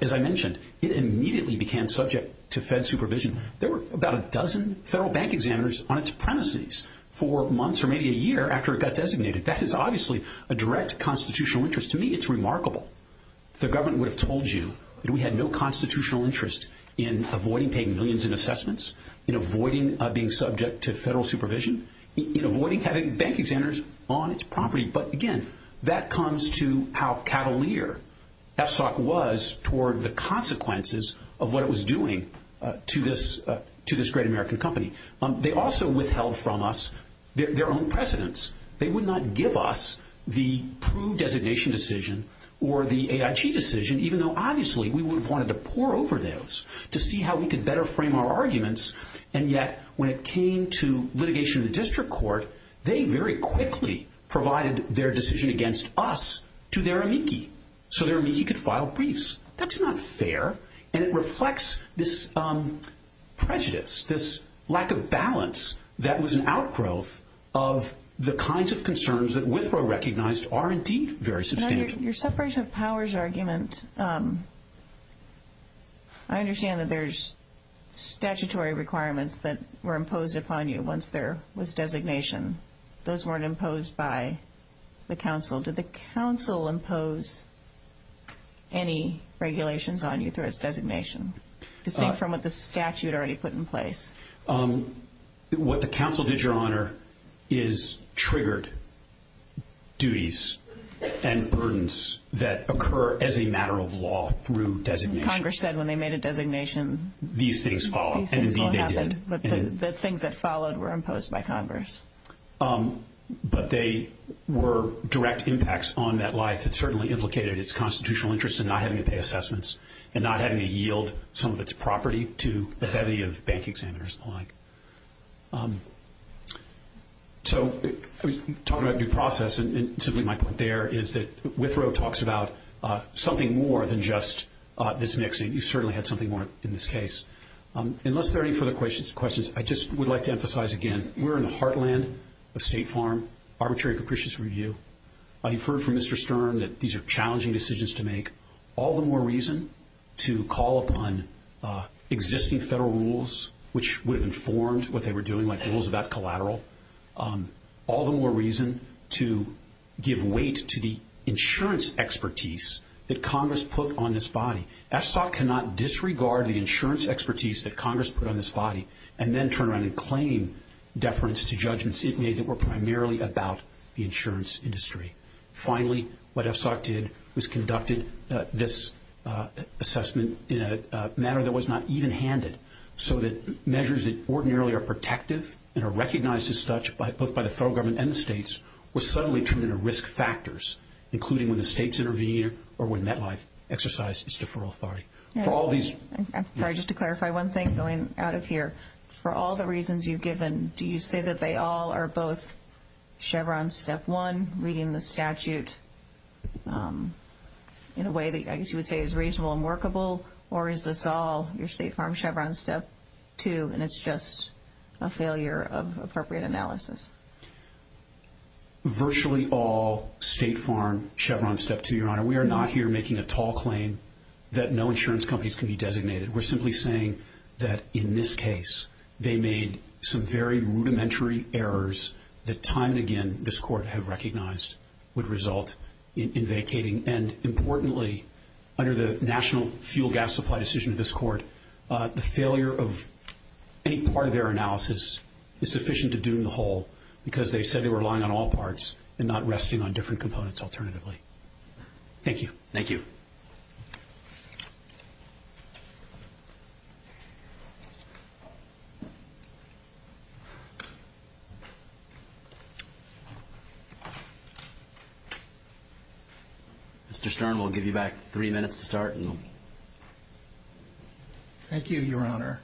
As I mentioned, it immediately became subject to Fed supervision. There were about a dozen federal bank examiners on its premises for months or maybe a year after it got designated. That is obviously a direct constitutional interest. To me, it's remarkable. The government would have told you that we had no constitutional interest in avoiding paying millions in assessments, in avoiding being subject to federal supervision, in avoiding having bank examiners on its property. But, again, that comes to how cavalier FSOC was toward the consequences of what it was doing to this great American company. They also withheld from us their own precedents. They would not give us the proved designation decision or the AIG decision, even though obviously we would have wanted to pore over those to see how we could better frame our arguments. And yet when it came to litigation in the district court, they very quickly provided their decision against us to their amici so their amici could file briefs. That's not fair, and it reflects this prejudice, this lack of balance that was an outgrowth of the kinds of concerns that Withrow recognized are indeed very substantial. Your separation of powers argument, I understand that there's statutory requirements that were imposed upon you once there was designation. Those weren't imposed by the council. Did the council impose any regulations on you through its designation, distinct from what the statute already put in place? What the council did, Your Honor, is triggered duties and burdens that occur as a matter of law through designation. Congress said when they made a designation these things followed, and indeed they did. But the things that followed were imposed by Congress. But they were direct impacts on that life that certainly implicated its constitutional interest in not having to pay assessments and not having to yield some of its property to the heavy of bank examiners. So talking about due process, and simply my point there, is that Withrow talks about something more than just this mixing. You certainly had something more in this case. Unless there are any further questions, I just would like to emphasize again we're in the heartland of State Farm Arbitrary Capricious Review. You've heard from Mr. Stern that these are challenging decisions to make. All the more reason to call upon existing federal rules which would have informed what they were doing, like rules about collateral. All the more reason to give weight to the insurance expertise that Congress put on this body. FSOC cannot disregard the insurance expertise that Congress put on this body and then turn around and claim deference to judgments it made that were primarily about the insurance industry. Finally, what FSOC did was conducted this assessment in a manner that was not even-handed, so that measures that ordinarily are protective and are recognized as such both by the federal government and the states were suddenly turned into risk factors, including when the states intervened or when MetLife exercised its deferral authority. I'm sorry, just to clarify one thing going out of here. For all the reasons you've given, do you say that they all are both Chevron Step 1, reading the statute in a way that I guess you would say is reasonable and workable, or is this all your State Farm Chevron Step 2 and it's just a failure of appropriate analysis? Virtually all State Farm Chevron Step 2, Your Honor. Your Honor, we are not here making a tall claim that no insurance companies can be designated. We're simply saying that in this case, they made some very rudimentary errors that time and again this Court have recognized would result in vacating. And importantly, under the National Fuel Gas Supply decision of this Court, the failure of any part of their analysis is sufficient to doom the whole because they said they were relying on all parts and not resting on different components alternatively. Thank you. Thank you. Mr. Stern, we'll give you back three minutes to start. Thank you, Your Honor.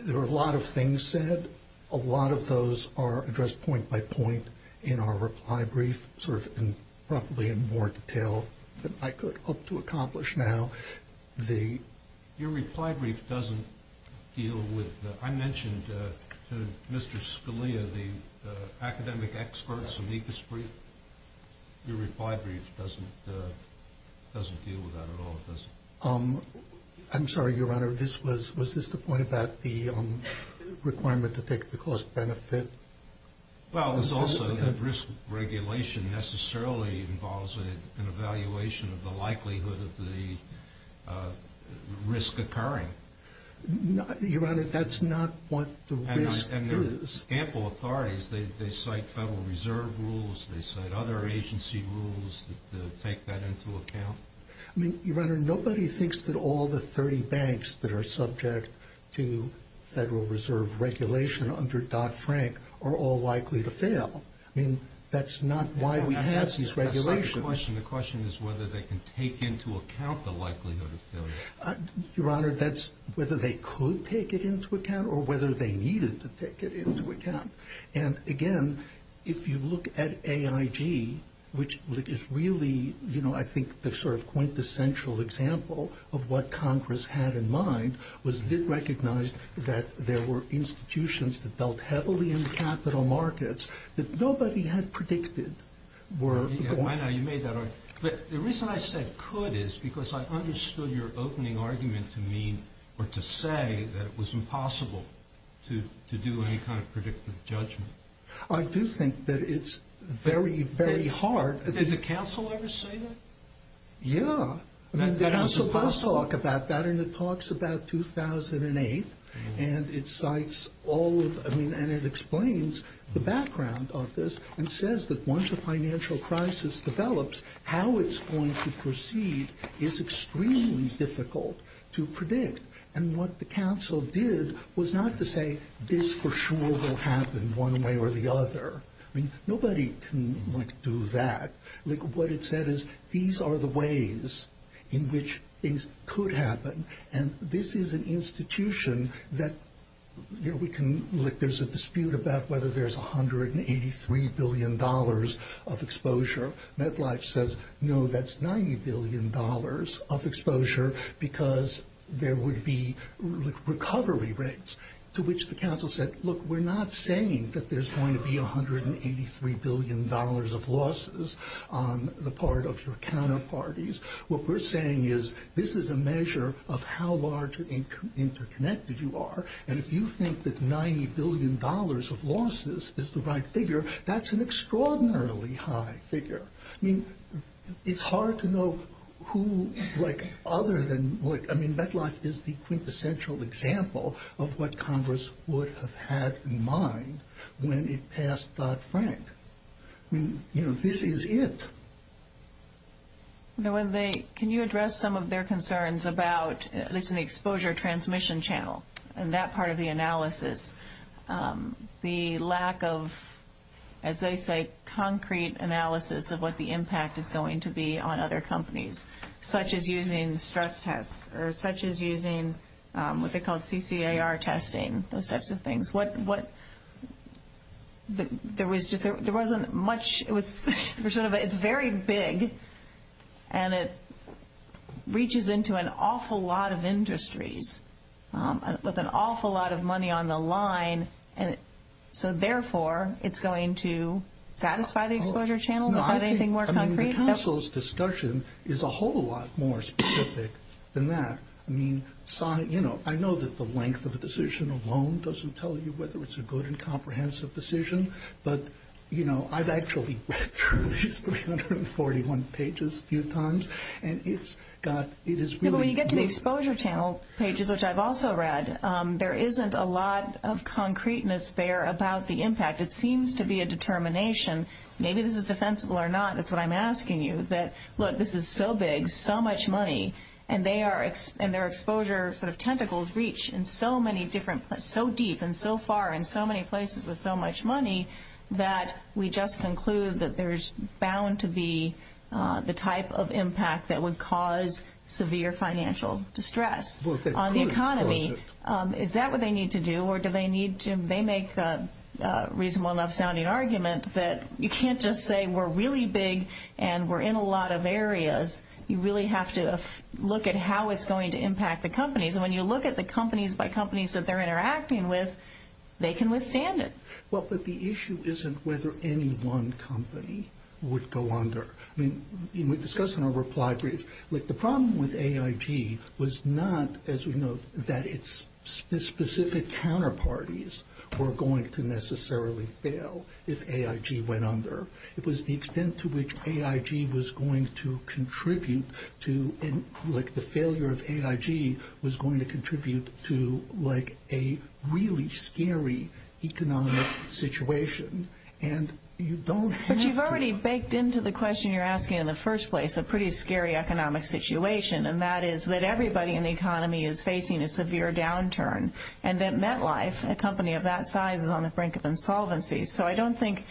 There are a lot of things said. A lot of those are addressed point by point in our reply brief, sort of in probably more detail than I could hope to accomplish now. Your reply brief doesn't deal with the – I mentioned to Mr. Scalia the academic experts of ECAS brief. Your reply brief doesn't deal with that at all, does it? I'm sorry, Your Honor. Your Honor, was this the point about the requirement to take the cost benefit? Well, it was also that risk regulation necessarily involves an evaluation of the likelihood of the risk occurring. Your Honor, that's not what the risk is. And there are ample authorities. They cite Federal Reserve rules. They cite other agency rules to take that into account. I mean, Your Honor, nobody thinks that all the 30 banks that are subject to Federal Reserve regulation under Dodd-Frank are all likely to fail. I mean, that's not why we have these regulations. That's not the question. The question is whether they can take into account the likelihood of failure. Your Honor, that's whether they could take it into account or whether they needed to take it into account. And, again, if you look at AIG, which is really, you know, I think the sort of quintessential example of what Congress had in mind was it recognized that there were institutions that dealt heavily in capital markets that nobody had predicted were going to fail. I know you made that argument. But the reason I said could is because I understood your opening argument to mean or to say that it was impossible to do any kind of predictive judgment. I do think that it's very, very hard. Did the Council ever say that? Yeah. The Council does talk about that, and it talks about 2008, and it cites all of the—I mean, and it explains the background of this and says that once a financial crisis develops, how it's going to proceed is extremely difficult to predict. And what the Council did was not to say, this for sure will happen one way or the other. I mean, nobody can, like, do that. Like, what it said is these are the ways in which things could happen, and this is an institution that, you know, we can— like, there's a dispute about whether there's $183 billion of exposure. MetLife says, no, that's $90 billion of exposure because there would be recovery rates, to which the Council said, look, we're not saying that there's going to be $183 billion of losses on the part of your counterparties. What we're saying is this is a measure of how large and interconnected you are, and if you think that $90 billion of losses is the right figure, that's an extraordinarily high figure. I mean, it's hard to know who, like, other than— I mean, MetLife is the quintessential example of what Congress would have had in mind when it passed Dodd-Frank. I mean, you know, this is it. Now, when they—can you address some of their concerns about, at least in the exposure transmission channel and that part of the analysis, the lack of, as they say, concrete analysis of what the impact is going to be on other companies, such as using stress tests or such as using what they call CCAR testing, those types of things? What—there wasn't much—it's very big, and it reaches into an awful lot of industries with an awful lot of money on the line, and so therefore it's going to satisfy the exposure channel without anything more concrete? The Council's discussion is a whole lot more specific than that. I mean, I know that the length of a decision alone doesn't tell you whether it's a good and comprehensive decision, but I've actually read through these 341 pages a few times, and it's got—it is really— Yeah, but when you get to the exposure channel pages, which I've also read, there isn't a lot of concreteness there about the impact. It seems to be a determination. Maybe this is defensible or not. That's what I'm asking you, that, look, this is so big, so much money, and their exposure sort of tentacles reach in so many different—so deep and so far and so many places with so much money that we just conclude that there's bound to be the type of impact that would cause severe financial distress on the economy. Is that what they need to do, or do they need to— That's a reasonable enough-sounding argument that you can't just say we're really big and we're in a lot of areas. You really have to look at how it's going to impact the companies, and when you look at the companies by companies that they're interacting with, they can withstand it. Well, but the issue isn't whether any one company would go under. I mean, we discussed in our reply brief that the problem with AIG was not, as we know, that its specific counterparties were going to necessarily fail if AIG went under. It was the extent to which AIG was going to contribute to—like, the failure of AIG was going to contribute to, like, a really scary economic situation, and you don't have to— But you've already baked into the question you're asking in the first place a pretty scary economic situation, and that is that everybody in the economy is facing a severe downturn, and that MetLife, a company of that size, is on the brink of insolvency. So I don't think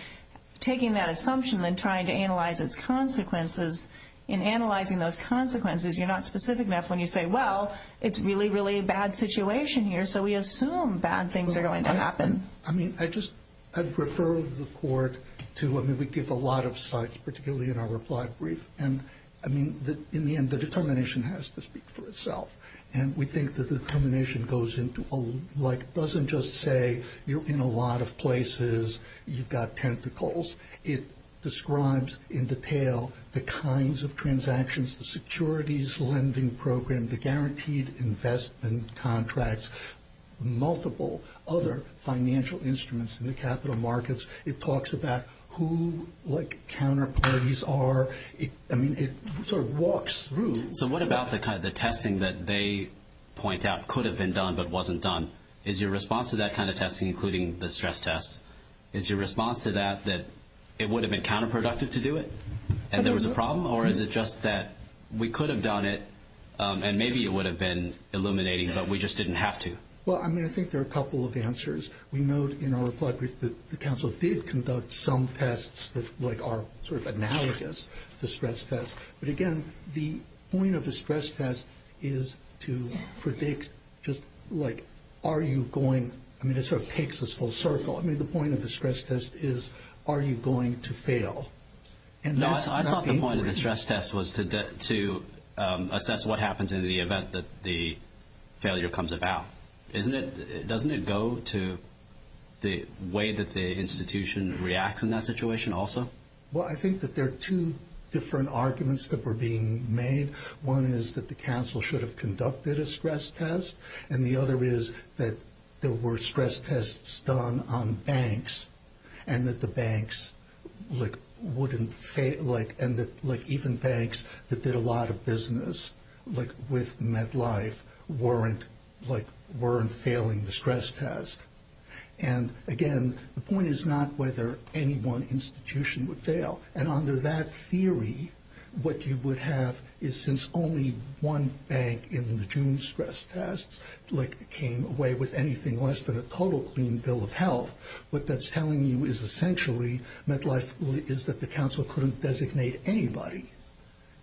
taking that assumption and trying to analyze its consequences, in analyzing those consequences, you're not specific enough when you say, well, it's really, really a bad situation here, so we assume bad things are going to happen. I mean, I just—I'd refer the court to—I mean, we give a lot of sites, particularly in our reply brief, and, I mean, in the end, the determination has to speak for itself, and we think the determination goes into, like, doesn't just say you're in a lot of places, you've got tentacles. It describes in detail the kinds of transactions, the securities lending program, the guaranteed investment contracts, multiple other financial instruments in the capital markets. It talks about who, like, counter parties are. I mean, it sort of walks through. So what about the testing that they point out could have been done but wasn't done? Is your response to that kind of testing, including the stress tests, is your response to that that it would have been counterproductive to do it, and there was a problem, or is it just that we could have done it, and maybe it would have been illuminating, but we just didn't have to? Well, I mean, I think there are a couple of answers. We note in our reply brief that the council did conduct some tests that, like, are sort of analogous to stress tests, but, again, the point of the stress test is to predict just, like, are you going, I mean, it sort of takes us full circle. I mean, the point of the stress test is are you going to fail? No, I thought the point of the stress test was to assess what happens in the event that the failure comes about. Doesn't it go to the way that the institution reacts in that situation also? Well, I think that there are two different arguments that were being made. One is that the council should have conducted a stress test, and the other is that there were stress tests done on banks and that the banks, like, wouldn't fail, like, and that, like, even banks that did a lot of business, like, with MetLife, weren't, like, weren't failing the stress test, and, again, the point is not whether any one institution would fail, and under that theory, what you would have is since only one bank in the June stress tests, like, came away with anything less than a total clean bill of health, what that's telling you is essentially, MetLife is that the council couldn't designate anybody,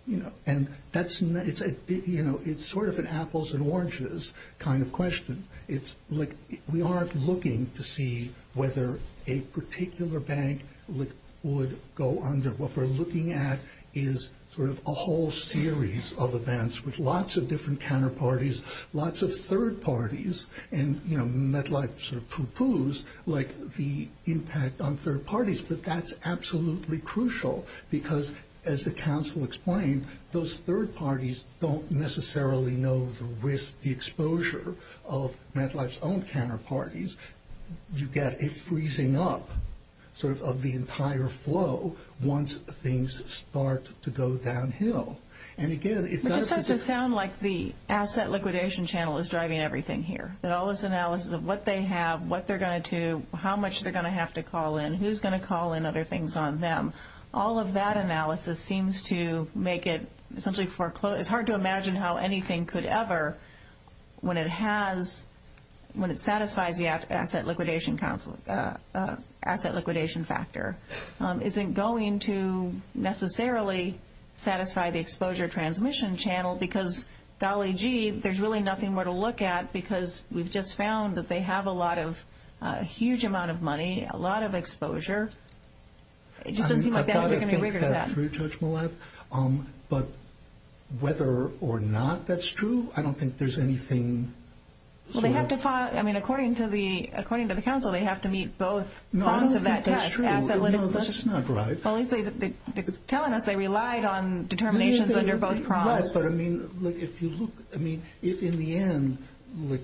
you know, and that's, you know, it's sort of an apples and oranges kind of question. It's, like, we aren't looking to see whether a particular bank, like, would go under. What we're looking at is sort of a whole series of events with lots of different counterparties, lots of third parties, and, you know, MetLife sort of poo-poos, like, the impact on third parties, but that's absolutely crucial because, as the council explained, those third parties don't necessarily know the risk, the exposure of MetLife's own counterparties. You get a freezing up, sort of, of the entire flow once things start to go downhill, and, again, it's... It just has to sound like the asset liquidation channel is driving everything here, that all this analysis of what they have, what they're going to do, how much they're going to have to call in, who's going to call in other things on them, all of that analysis seems to make it essentially foreclosed. It's hard to imagine how anything could ever, when it has... When it satisfies the asset liquidation council...asset liquidation factor, isn't going to necessarily satisfy the exposure transmission channel because, golly gee, there's really nothing more to look at because we've just found that they have a lot of... a huge amount of money, a lot of exposure. I mean, I've got to think that through, Judge Malat, but whether or not that's true, I don't think there's anything... Well, they have to find...I mean, according to the council, they have to meet both prongs of that test. No, I don't think that's true. No, that's not right. Well, at least they're telling us they relied on determinations under both prongs. Yes, but, I mean, look, if you look... I mean, if in the end, like,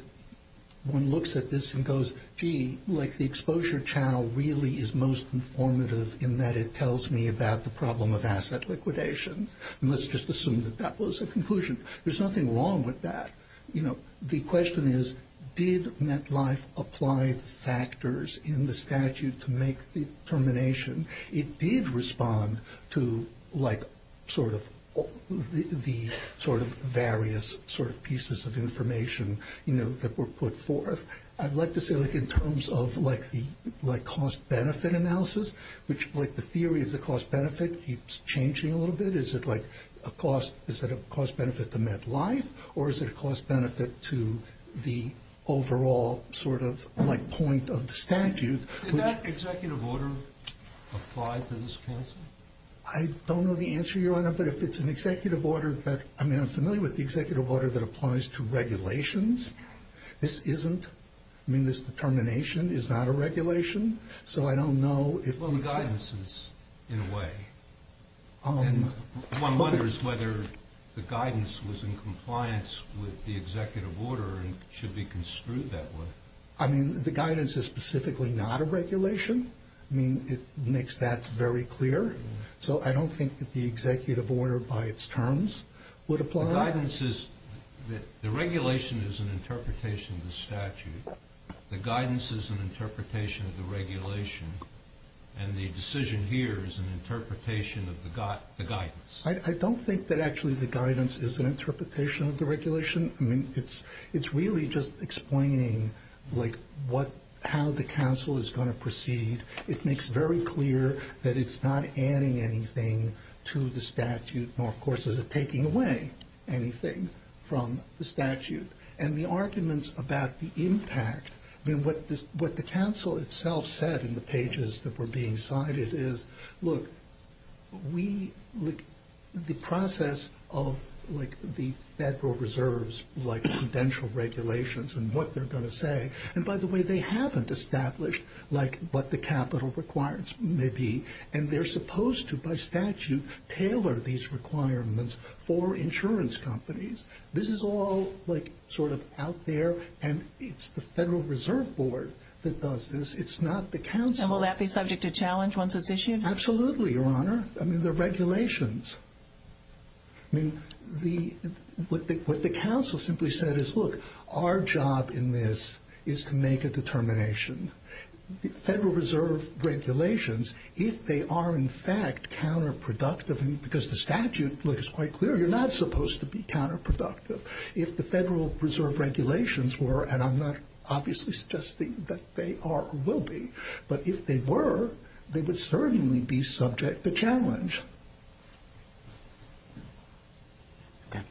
one looks at this and goes, gee, like, the exposure channel really is most informative in that it tells me about the problem of asset liquidation, and let's just assume that that was a conclusion. There's nothing wrong with that. You know, the question is, did MetLife apply the factors in the statute to make the determination? It did respond to, like, sort of the sort of various sort of pieces of information, you know, that were put forth. I'd like to say, like, in terms of, like, the cost-benefit analysis, which, like, the theory of the cost-benefit keeps changing a little bit. Is it, like, a cost...is it a cost-benefit to MetLife, or is it a cost-benefit to the overall sort of, like, point of the statute? Did that executive order apply to this counsel? I don't know the answer, Your Honor, but if it's an executive order that... I mean, I'm familiar with the executive order that applies to regulations. This isn't. I mean, this determination is not a regulation, so I don't know if... Well, the guidance is, in a way. One wonders whether the guidance was in compliance with the executive order and should be construed that way. I mean, the guidance is specifically not a regulation. I mean, it makes that very clear. So I don't think that the executive order by its terms would apply. The guidance is...the regulation is an interpretation of the statute. The guidance is an interpretation of the regulation. And the decision here is an interpretation of the guidance. I don't think that actually the guidance is an interpretation of the regulation. I mean, it's really just explaining, like, how the counsel is going to proceed. It makes very clear that it's not adding anything to the statute. Nor, of course, is it taking away anything from the statute. And the arguments about the impact... I mean, what the counsel itself said in the pages that were being cited is, look, we...the process of, like, the Federal Reserve's, like, credential regulations and what they're going to say. And, by the way, they haven't established, like, what the capital requirements may be. And they're supposed to, by statute, tailor these requirements for insurance companies. This is all, like, sort of out there, and it's the Federal Reserve Board that does this. It's not the counsel. And will that be subject to challenge once it's issued? Absolutely, Your Honor. I mean, they're regulations. I mean, the...what the counsel simply said is, look, our job in this is to make a determination. Federal Reserve regulations, if they are, in fact, counterproductive, because the statute looks quite clear, you're not supposed to be counterproductive. If the Federal Reserve regulations were, and I'm not obviously suggesting that they are or will be, but if they were, they would certainly be subject to challenge. Okay.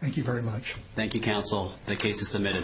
Thank you very much. Thank you, counsel. The case is submitted.